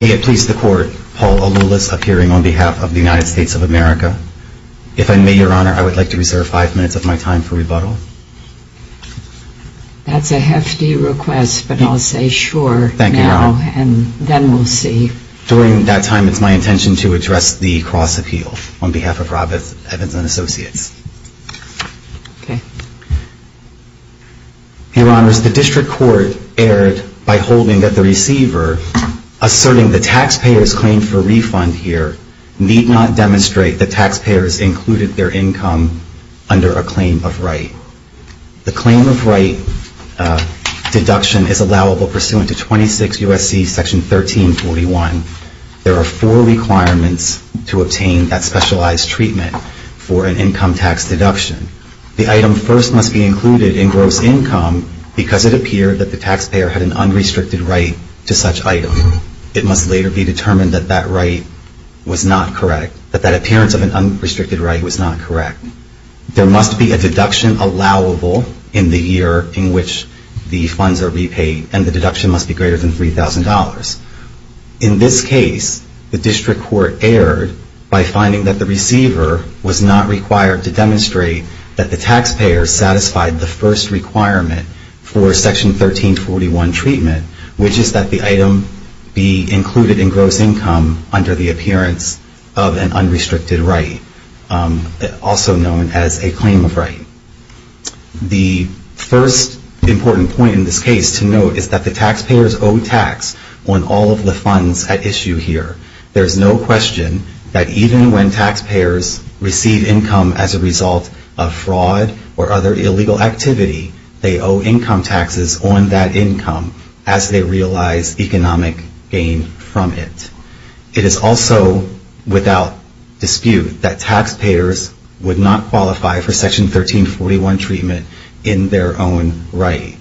May it please the Court, Paul Aloulis, appearing on behalf of the United States of America. If I may, Your Honor, I would like to reserve five minutes of my time for rebuttal. That's a hefty request, but I'll say sure now, and then we'll see. During that time, it's my intention to address the cross-appeal on behalf of Robb Evans & Associates. Your Honors, the District Court erred by holding that the receiver asserting the taxpayer's claim for refund here need not demonstrate that taxpayers included their income under a claim of right. The claim of right deduction is allowable pursuant to 26 U.S.C. Section 1341. There are four requirements to obtain that specialized treatment for an income tax deduction. The item first must be included in gross income because it appeared that the taxpayer had an unrestricted right to such item. It must later be determined that that right was not correct, that that appearance of an unrestricted right was not correct. There must be a deduction allowable in the year in which the funds are repaid, and the deduction must be greater than $3,000. In this case, the District Court erred by finding that the receiver was not required to demonstrate that the taxpayer satisfied the first requirement for Section 1341 treatment, which is that the item be included in gross income under the appearance of an unrestricted right, also known as a claim of right. The first important point in this case to note is that the taxpayers owe tax on all of the funds at issue here. There is no question that even when taxpayers receive income as a result of fraud or other illegal activity, they owe income taxes on that income as they realize economic gain from it. It is also without dispute that taxpayers would not qualify for Section 1341 treatment in their own right.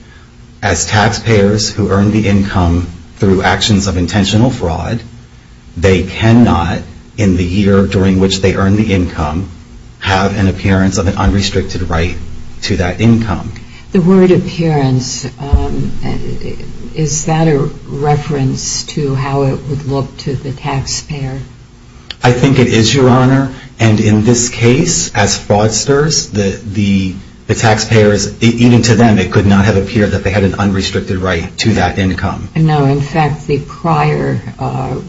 As taxpayers who earn the income through actions of intentional fraud, they cannot, in the year during which they earn the income, have an appearance of an unrestricted right to that income. The word appearance, is that a reference to how it would look to the taxpayer? I think it is, Your Honor, and in this case, as fraudsters, the taxpayers, even to them, it could not have appeared that they had an unrestricted right to that income. No, in fact, the prior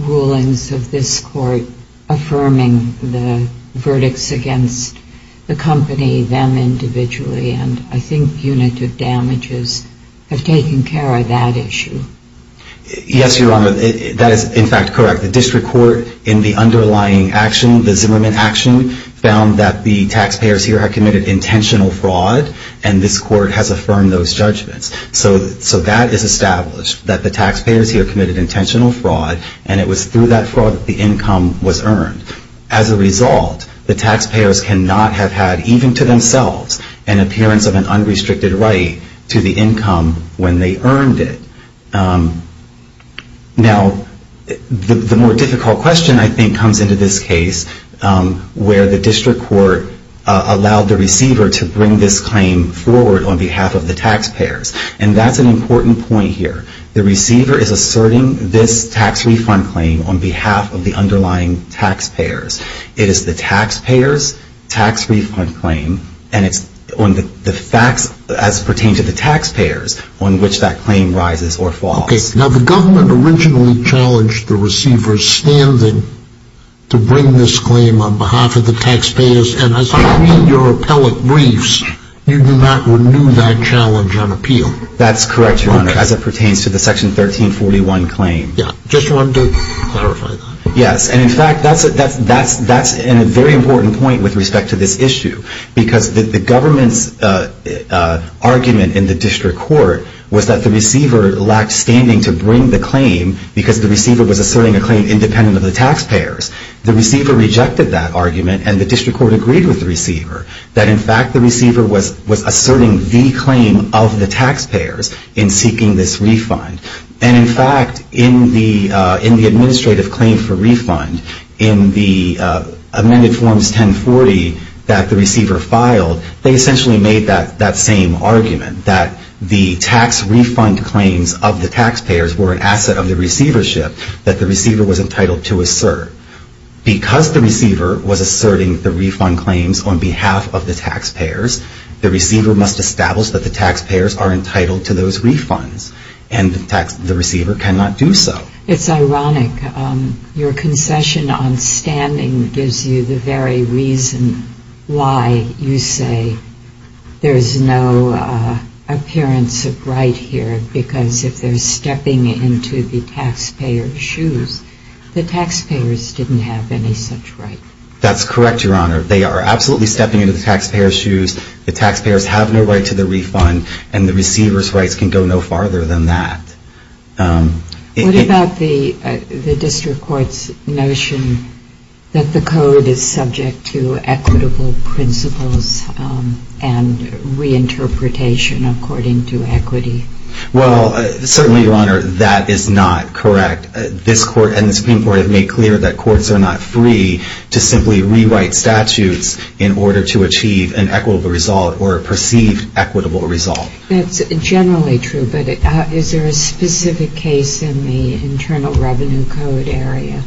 rulings of this Court affirming the verdicts against the company, them individually, and I think punitive damages have taken care of that issue. Yes, Your Honor, that is, in fact, correct. The District Court in the underlying action, the Zimmerman action, found that the taxpayers here had committed intentional fraud and this Court has affirmed those judgments. So that is established, that the taxpayers here committed intentional fraud and it was through that fraud that the income was earned. As a result, the taxpayers cannot have had, even to themselves, an appearance of an unrestricted right to the income when they earned it. Now, the more difficult question, I think, comes into this case where the District Court allowed the receiver to bring this claim forward on behalf of the taxpayers. And that is an important point here. The receiver is asserting this tax refund claim on behalf of the underlying taxpayers. It is the taxpayers' tax refund claim and it's on the facts as pertained to the taxpayers on which that claim rises or falls. Okay, now the government originally challenged the receiver's standing to bring this claim on behalf of the taxpayers and as I read your appellate briefs, you do not renew that challenge on appeal. That's correct, Your Honor, as it pertains to the Section 1341 claim. Just wanted to clarify that. Yes, and in fact, that's a very important point with respect to this issue because the government's argument in the District Court was that the receiver lacked standing to bring the claim because the receiver was asserting a claim independent of the taxpayers. That in fact, the receiver was asserting the claim of the taxpayers in seeking this refund. And in fact, in the administrative claim for refund, in the amended Forms 1040 that the receiver filed, they essentially made that same argument that the tax refund claims of the taxpayers were an asset of the receivership that the receiver was entitled to assert. Because the receiver was asserting the refund claims on behalf of the taxpayers, the receiver must establish that the taxpayers are entitled to those refunds and the receiver cannot do so. It's ironic. Your concession on standing gives you the very reason why you say there's no appearance of right here because if they're stepping into the taxpayer's shoes, the taxpayers didn't have any such right. That's correct, Your Honor. They are absolutely stepping into the taxpayer's shoes. The taxpayers have no right to the refund and the receiver's rights can go no farther than that. What about the District Court's notion that the Code is subject to equitable principles and reinterpretation according to equity? Well, certainly, Your Honor, that is not correct. This Court and the Supreme Court have made clear that courts are not free to simply rewrite statutes in order to achieve an equitable result or a perceived equitable result. That's generally true, but is there a specific case in the Internal Revenue Code area?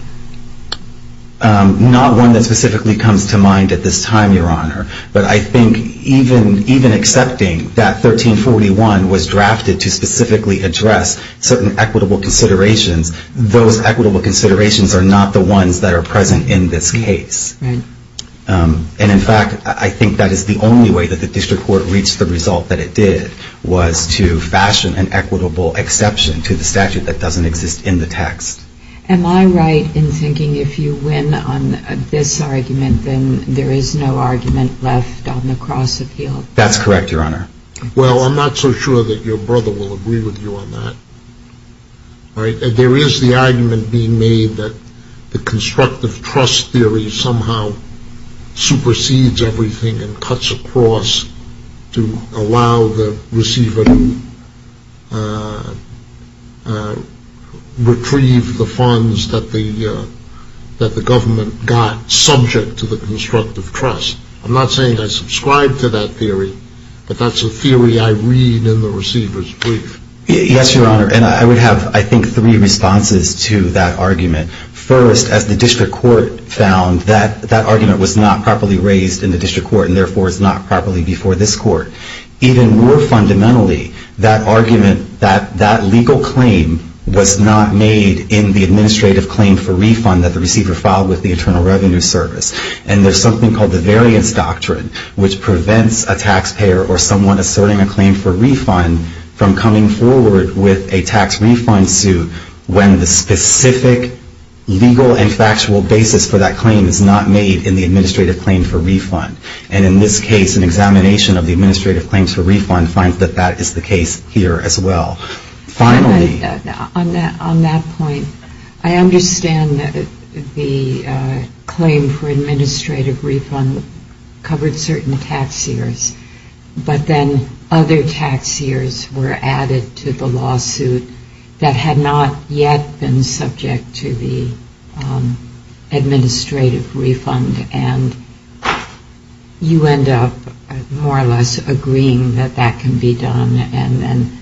Not one that specifically comes to mind at this time, Your Honor. But I think even accepting that 1341 was drafted to specifically address certain equitable considerations, those equitable considerations are not the ones that are present in this case. And in fact, I think that is the only way that the District Court reached the result that it did was to fashion an equitable exception to the statute that doesn't exist in the text. Am I right in thinking if you win on this argument, then there is no argument left on the cross-appeal? That's correct, Your Honor. Well, I'm not so sure that your brother will agree with you on that. There is the argument being made that the constructive trust theory somehow supersedes everything and cuts across to allow the receiver to retrieve the funds that the government got subject to the constructive trust. I'm not saying I subscribe to that theory, but that's a theory I read in the receiver's brief. Yes, Your Honor. And I would have, I think, three responses to that argument. First, as the District Court found that that argument was not properly raised in the District Court and therefore is not properly before this Court. Even more fundamentally, that argument, that legal claim was not made in the administrative claim for refund that the receiver filed with the Internal Revenue Service. And there's something called the Variance Doctrine which prevents a taxpayer or someone asserting a claim for refund from coming forward with a tax refund suit when the specific legal and factual basis for that claim is not made in the administrative claim for refund. And in this case, an examination of the administrative claims for refund finds that that is the case here as well. Finally... On that point, I understand that the claim for administrative refund covered certain tax years but then other tax years were added to the lawsuit that had not yet been subject to the administrative refund and you end up more or less agreeing that that can be done and then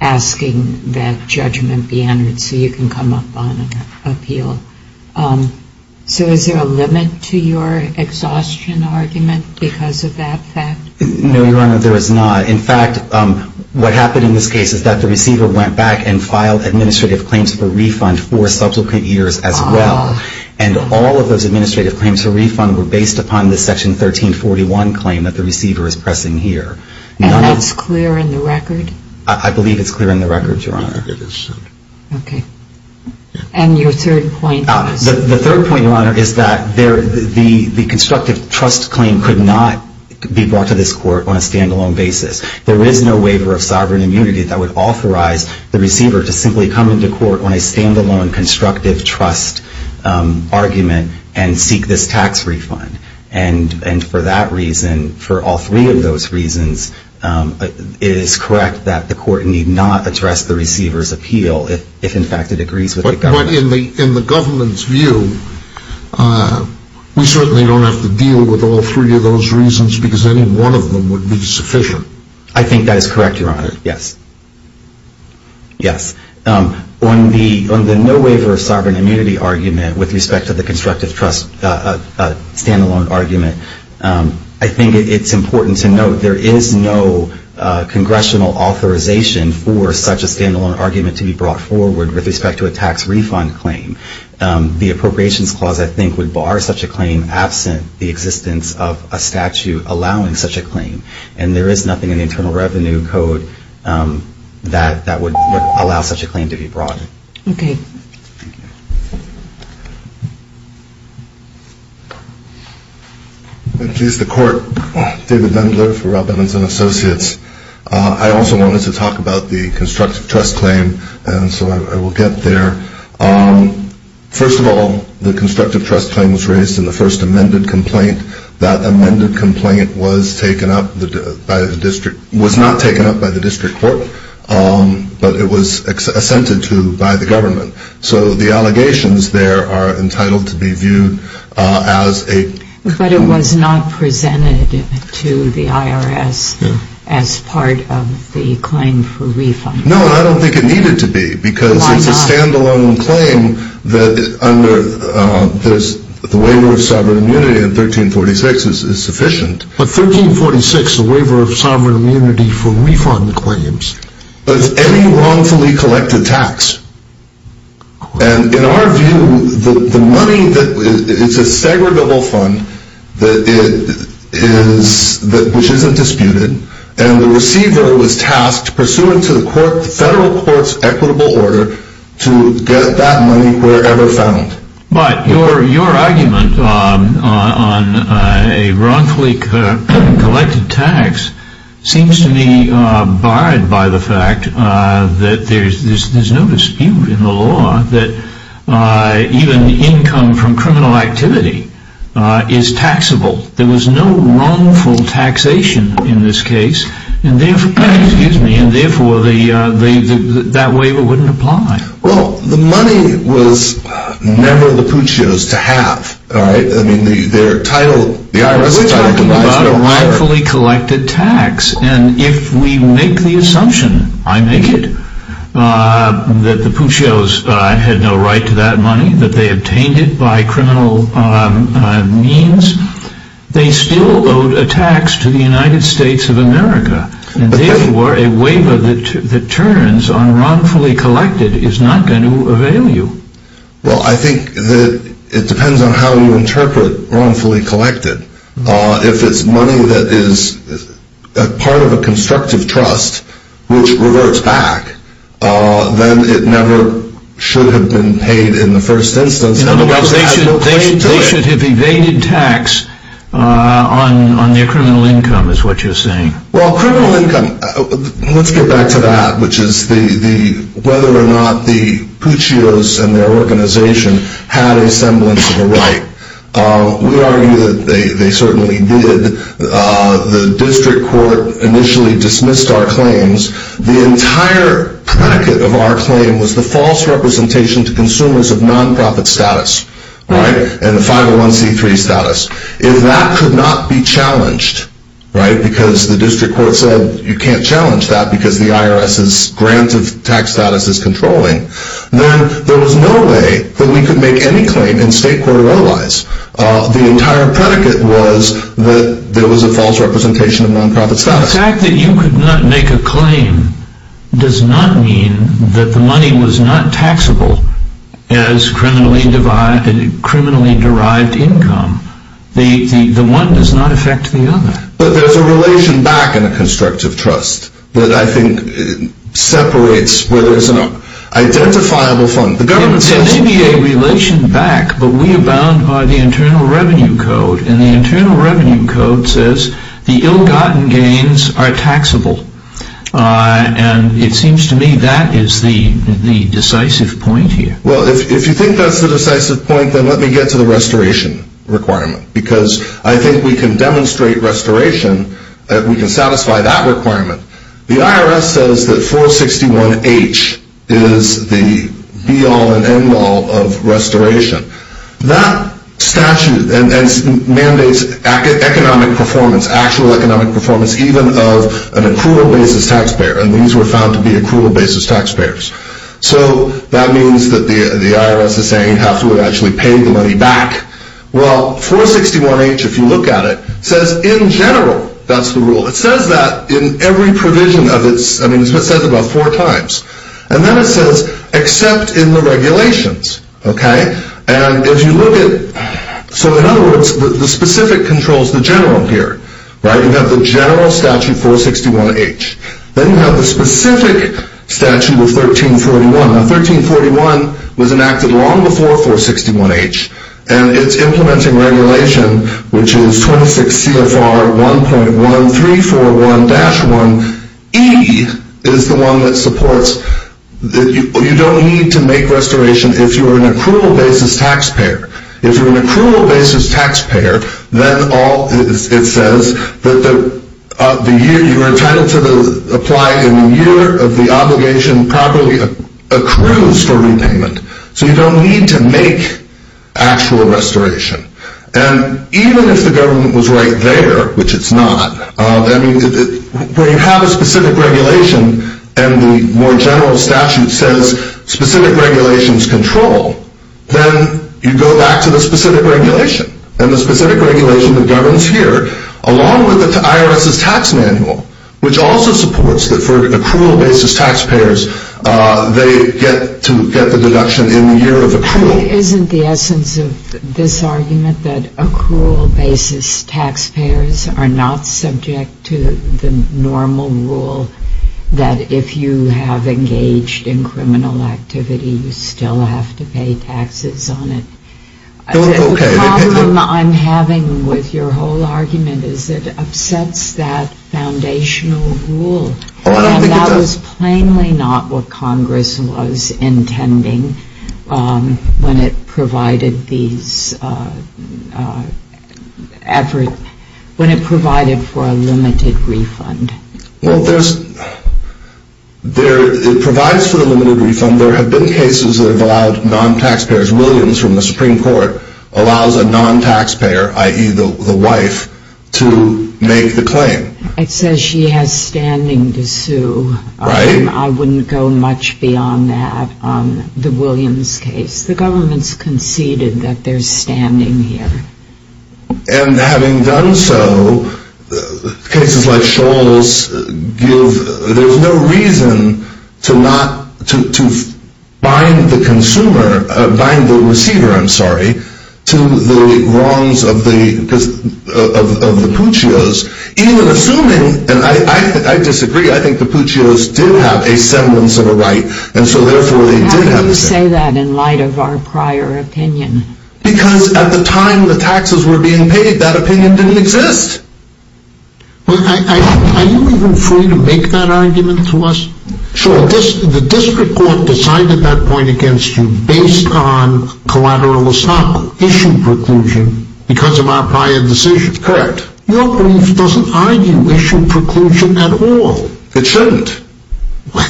asking that judgment be entered so you can come up on an appeal. So is there a limit to your exhaustion argument because of that fact? No, Your Honor, there is not. In fact, what happened in this case is that the receiver went back and filed administrative claims for refund for subsequent years as well. And all of those administrative claims for refund were based upon the Section 1341 claim that the receiver is pressing here. And that's clear in the record? I believe it's clear in the record, Your Honor. It is. Okay. And your third point? The third point, Your Honor, is that the constructive trust claim could not be brought to this Court on a stand-alone basis. There is no waiver of sovereign immunity that would authorize the receiver to simply come into Court on a stand-alone constructive trust argument and seek this tax refund. And for that reason, for all three of those reasons, it is correct that the Court need not address the receiver's appeal if, in fact, it agrees with the government. But in the government's view, we certainly don't have to deal with all three of those reasons because any one of them would be sufficient. I think that is correct, Your Honor. Yes. Yes. On the no waiver of sovereign immunity argument with respect to the constructive trust stand-alone argument, I think it's important to note there is no congressional authorization for such a stand-alone argument to be brought forward with respect to a tax refund claim. The Appropriations Clause, I think, would bar such a claim absent the existence of a statute allowing such a claim. And there is nothing in the Internal Revenue Code that would allow such a claim to be brought. Okay. And please, the Court. David Dundler for Robbins & Associates. I also wanted to talk about the constructive trust claim and so I will get there. First of all, the constructive trust claim was raised in the first amended complaint. That amended complaint was not taken up by the District Court but it was assented to by the government. So the allegations there are entitled to be viewed as a... But it was not presented to the IRS as part of the claim for refund. No, I don't think it needed to be because it's a stand-alone claim that under the Waiver of Sovereign Immunity in 1346 is sufficient. But 1346, the Waiver of Sovereign Immunity for refund claims. But it's any wrongfully collected tax. And in our view the money that... It's a segregable fund that is... And the receiver was tasked pursuant to the federal court's equitable order to get that money wherever found. But your argument on a wrongfully collected tax seems to me barred by the fact that there's no dispute in the law that even income from criminal activity is taxable. There was no wrongful taxation in this case and therefore that waiver wouldn't apply. Well, the money was never the Puccio's to have. Their title, the IRS's title was a wrongfully collected tax and if we make the assumption I make it that the Puccio's had no right to that money that they obtained it by criminal means they still owed a tax to the United States of America and therefore a waiver that turns on wrongfully collected is not going to avail you. Well, I think it depends on how you interpret wrongfully collected. If it's money that is part of a constructive trust which reverts back then it never should have been paid in the first instance. They should have evaded tax on their criminal income is what you're saying. Let's get back to that which is the whether or not the Puccio's and their organization had a semblance of a right. We argue that they certainly did. The district court initially dismissed our claims the entire packet of our claim was the false representation to consumers of non-profit status and the 501c3 status. If that could not be challenged because the district court said you can't challenge that because the IRS grant of tax status is controlling then there was no way that we could make any claim in state court or otherwise. The entire predicate was that there was a false representation of non-profit status. The fact that you could not make a claim does not mean that the money was not taxable as criminally derived income. The one does not affect the other. But there's a relation back in a constructive trust that I think separates where there's an identifiable fund. There may be a relation back but we abound by the Internal Revenue Code and the Internal Revenue Code says the ill-gotten gains are taxable and it seems to me that is the decisive point here. If you think that's the decisive point then let me get to the restoration requirement because I think we can demonstrate restoration that we can satisfy that requirement. The IRS says that 461H is the be-all and end-all of restoration that statute mandates economic performance, actual economic performance even of an accrual basis taxpayer and these were found to be accrual basis taxpayers. That means that the IRS is saying how to actually pay the money back. Well 461H if you look at it says in general, that's the rule, it says that in every provision of its I mean it says it about four times and then it says except in the regulations. If you look at so in other words the specific controls the general here. You have the general statute 461H then you have the specific statute of 1341 now 1341 was enacted long before 461H and it's implementing regulation which is 26 CFR 1.1341-1 E is the one that supports you don't need to make restoration if you're an accrual basis taxpayer. If you're an accrual basis taxpayer then all it says that the year you were entitled to apply in the year of the obligation properly accrues for repayment. So you don't need to make actual restoration. And even if the government was right there, which it's not, where you have a specific regulation and the more general statute says specific regulations control, then you go back to the specific regulation and the specific regulation that governs here along with the IRS's tax manual which also supports that for accrual basis taxpayers they get to get the deduction in the year of accrual. Isn't the essence of this argument that accrual basis taxpayers are not subject to the normal rule that if you have engaged in criminal activity you still have to pay taxes on it? The problem I'm having with your whole argument is it upsets that foundational rule. And that was plainly not what Congress was intending when it provided these efforts when it provided for a limited refund. Well there's it provides for a limited refund and there have been cases that have allowed non-taxpayers, Williams from the Supreme Court allows a non-taxpayer i.e. the wife to make the claim. It says she has standing to sue. Right. I wouldn't go much beyond that the Williams case. The government's conceded that they're standing here. And having done so cases like Shoals give, there's no reason to not bind the consumer bind the receiver I'm sorry to the wrongs of the of the Puccios even assuming and I disagree I think the Puccios did have a semblance of a right and so therefore they did have a right. How do you say that in light of our prior opinion? Because at the time the taxes were being paid that opinion didn't exist. Are you even free to make that argument to us? Sure. The district court decided that point against you based on collateral issue preclusion because of our prior decision. Correct. Your brief doesn't argue issue preclusion at all. It shouldn't. Well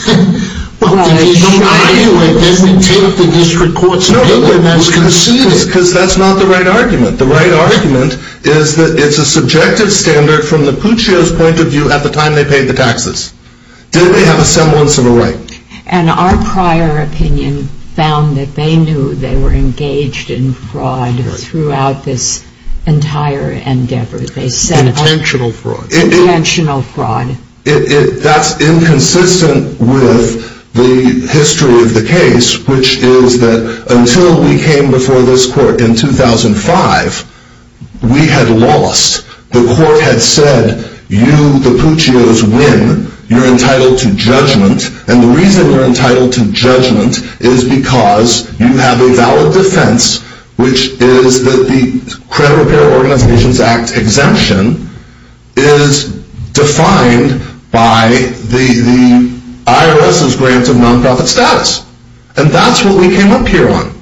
if you don't argue it then we take the district court's opinion as conceded. Because that's not the right argument. The right argument is that it's a subjective standard from the Puccio's point of view at the time they paid the taxes. Did they have a semblance of a right? And our prior opinion found that they knew they were engaged in fraud throughout this entire endeavor. Intentional fraud. Intentional fraud. That's inconsistent with the history of the case which is that until we came before this court in 2005 we had lost. The court had said you, the Puccio's, win. You're entitled to judgment. And the reason you're entitled to judgment is because you have a valid defense which is that the Credit Repair Organizations Act exemption is defined by the IRS's grant of non-profit status. And that's what we came up here on.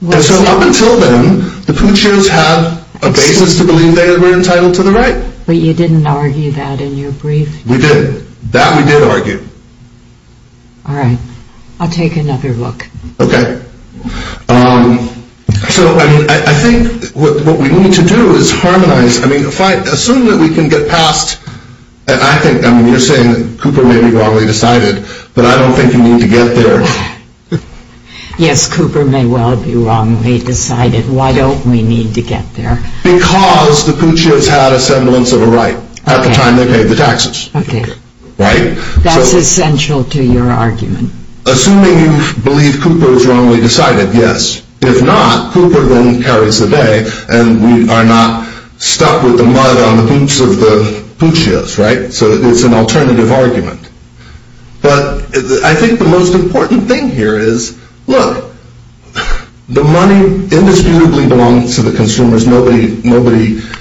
And so up until then, the Puccio's have a basis to believe they were entitled to the right. But you didn't argue that in your brief? We did. That we did argue. Alright. I'll take another look. Okay. So, I mean, I think what we need to do is harmonize. Assume that we can get past and I think, I mean, you're saying that Cooper may be wrongly decided but I don't think you need to get there. Yes, Cooper may well be wrongly decided. Why don't we need to get there? Because the Puccio's had a semblance of a right at the time they paid the taxes. Okay. Right? That's essential to your argument. Assuming you believe Cooper is wrongly decided, yes. If not, Cooper then carries the day and we are not stuck with the mud on the boots of the Puccio's, right? So it's an alternative argument. But I think the most important thing here is look, the money indisputably belongs to the consumers, nobody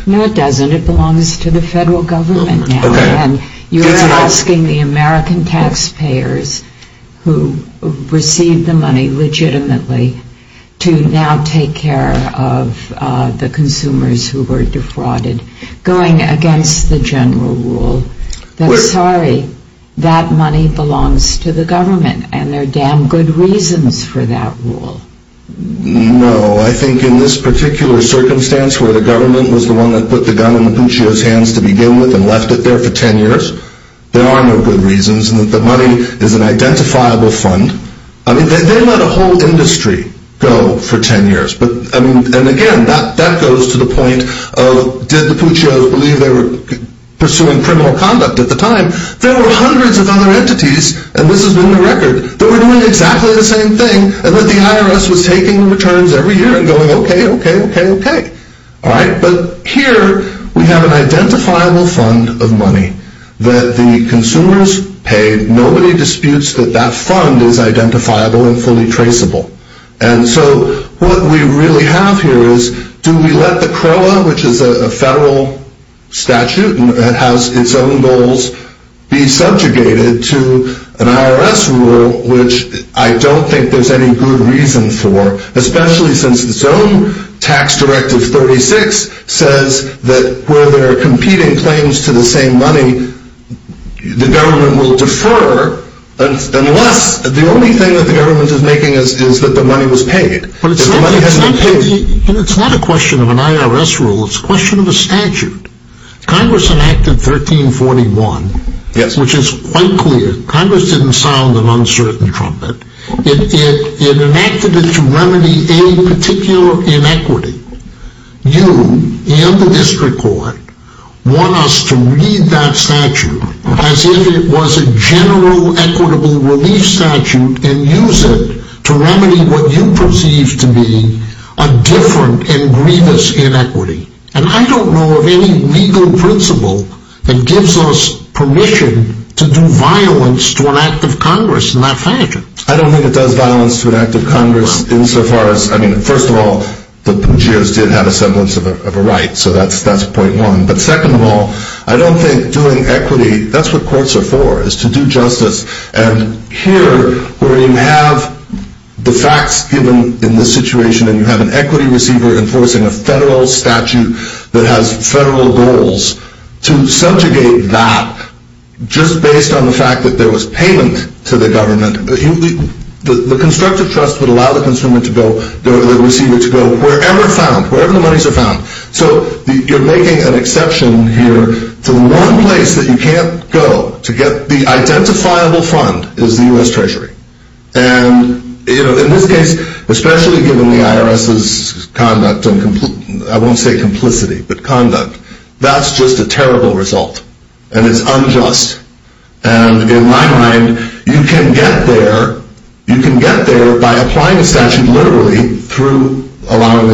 No, it doesn't. It belongs to the federal government now and you're asking the American taxpayers who received the money legitimately to now take care of the consumers who were defrauded. Going against the general rule that sorry, that money belongs to the government and there are damn good reasons for that rule. No, I think in this particular circumstance where the government was the one that put the gun in the Puccio's hands to begin with and left it there for ten years there are no good reasons and the money is an identifiable fund. I mean, they let a whole industry go for ten years. And again, that goes to the point of did the Puccio's believe they were pursuing criminal conduct at the time? There were hundreds of other entities, and this has been the record, that were doing exactly the same thing and that the IRS was taking returns every year and going okay, okay, okay, okay. Alright, but here we have an identifiable fund of money that the consumers paid. Nobody disputes that that fund is identifiable and fully traceable. And so what we really have here is do we let the CROA which is a federal statute and has its own goals be subjugated to an IRS rule which I don't think there's any good reason for, especially since its own tax directive 36 says that where there are competing claims to the same money the government will defer unless, the only thing that the government is making is that the money was paid. But it's not it's not a question of an IRS rule, it's a question of a statute. Congress enacted 1341, which is quite clear. Congress didn't sound an uncertain trumpet. It enacted it to remedy a particular inequity. You and the district court want us to read that statute as if it was a general equitable relief statute and use it to remedy a different and grievous inequity. And I don't know of any legal principle that gives us permission to do violence to an act of Congress in that fashion. I don't think it does violence to an act of Congress in so far as, I mean, first of all the Bougiers did have a semblance of a right, so that's point one. But second of all, I don't think doing equity, that's what courts are for is to do justice. And here, where you have the facts given in this situation and you have an equity receiver enforcing a federal statute that has federal goals to subjugate that just based on the fact that there was payment to the government. The constructive trust would allow the consumer to go, the receiver to go wherever found, wherever the monies are found. So you're making an exception here to one place that you can't go to get the identifiable fund is the U.S. Treasury. And in this case, especially given the IRS's conduct and I won't say complicity but conduct, that's just a terrible result. And it's unjust. And in my mind you can get there you can get there by applying a statute literally through allowing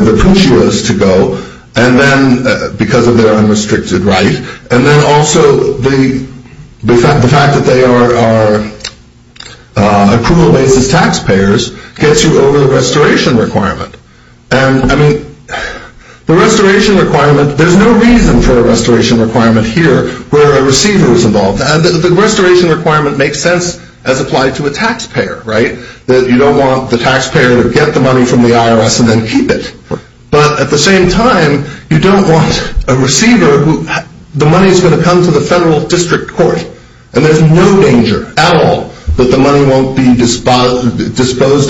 the consumers to go and then because of their unrestricted right and then also the fact that they are approval-based as taxpayers gets you over the restoration requirement. And I mean the restoration requirement, there's no reason for a restoration requirement here where a receiver is involved. The restoration requirement makes sense as applied to a taxpayer, right? You don't want the taxpayer to get the money from the IRS and then keep it. But at the same time, you don't want a receiver who the money is going to come to the federal district court and there's no danger at all that the money won't be disposed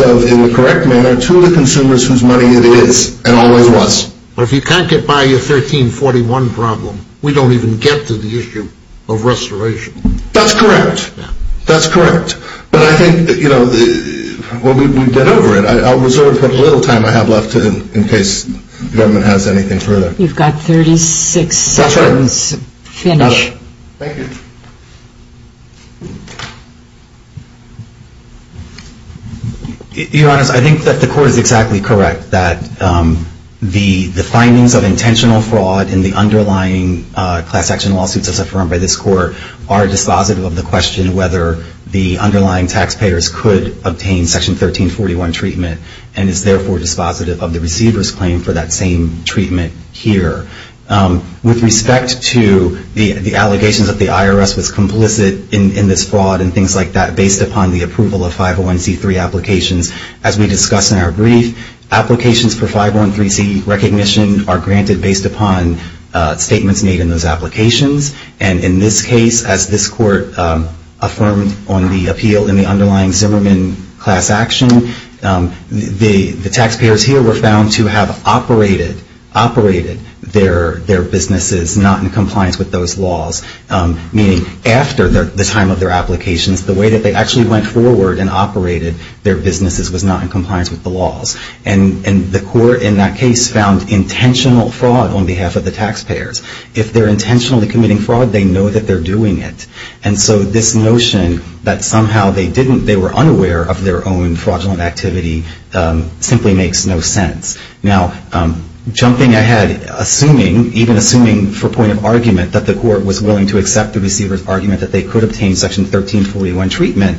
of in the correct manner to the consumers whose money it is and always was. But if you can't get by your 1341 problem we don't even get to the issue of restoration. That's correct. That's correct. But I think, you know, we've been over it. I'll reserve the little time I have left in case the government has anything further. You've got 36 seconds. Finish. Thank you. Your Honor, I think that the court is exactly correct that the findings of intentional fraud in the underlying class action lawsuits as affirmed by this court are dispositive of the question whether the underlying taxpayers could obtain Section 1341 treatment and is therefore dispositive of the receiver's claim for that same treatment here. With respect to the allegations that the IRS was complicit in this fraud and things like that based upon the approval of 501c3 applications as we discussed in our brief applications for 501c3 recognition are granted based upon statements made in those applications and in this case as this court affirmed on the appeal in the underlying Zimmerman class action the taxpayers here were found to have operated their businesses not in compliance with those laws meaning after the time of their applications the way that they actually went forward and operated their businesses was not in compliance with the laws and the court in that case found intentional fraud on behalf of the taxpayers. If they're intentionally committing fraud they know that they're doing it and so this notion that somehow they were unaware of their own fraudulent activity simply makes no sense. Jumping ahead even assuming for point of argument that the court was willing to accept the receiver's argument that they could obtain Section 1341 treatment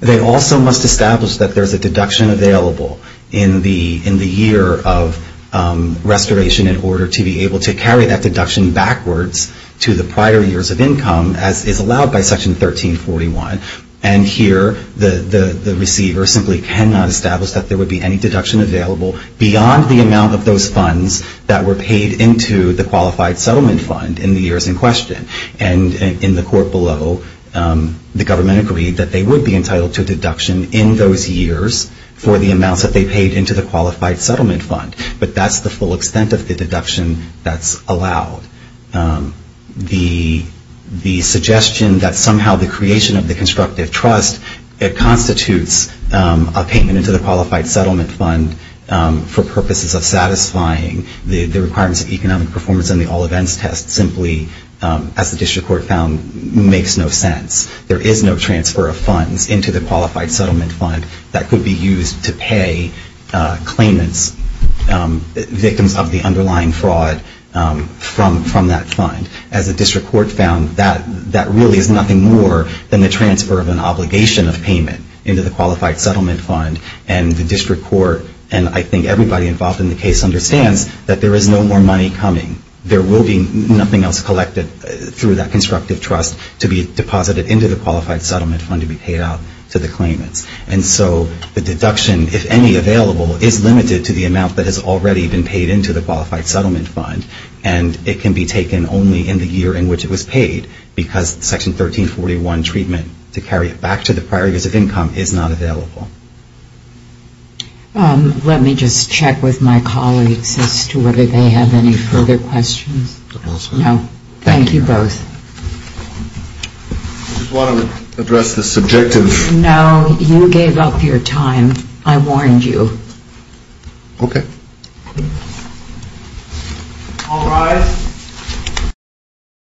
they also must establish that there's a deduction available in the year of restoration in order to be able to carry that deduction backwards to the prior years of income as is allowed by Section 1341 and here the receiver simply cannot establish that there would be any deduction available beyond the amount of those funds that were paid into the Qualified Settlement Fund in the years in question and in the court below the government agreed that they would be entitled to a deduction in those years for the amounts that they paid into the Qualified Settlement Fund but that's the full extent of the deduction that's allowed. The suggestion that somehow the creation of the constructive trust constitutes a payment into the Qualified Settlement Fund for purposes of satisfying the requirements of economic performance and the all events test simply as the district court found makes no sense. There is no transfer of funds into the Qualified Settlement Fund that could be used to pay claimants victims of the underlying fraud from that fund. As the district court found that really is nothing more than the transfer of an obligation of payment into the Qualified Settlement Fund and the district court and I think everybody involved in the case understands that there is no more money coming. There will be nothing else collected through that constructive trust to be deposited into the Qualified Settlement Fund to be paid out to the claimants. And so the deduction if any available is limited to the amount that has already been deposited into the Qualified Settlement Fund and it can be taken only in the year in which it was paid because Section 1341 treatment to carry it back to the prior years of income is not available. Let me just check with my colleagues as to whether they have any further questions. No. Thank you both. I just want to address the subjective No. You gave up your time. I warned you. Okay. All rise.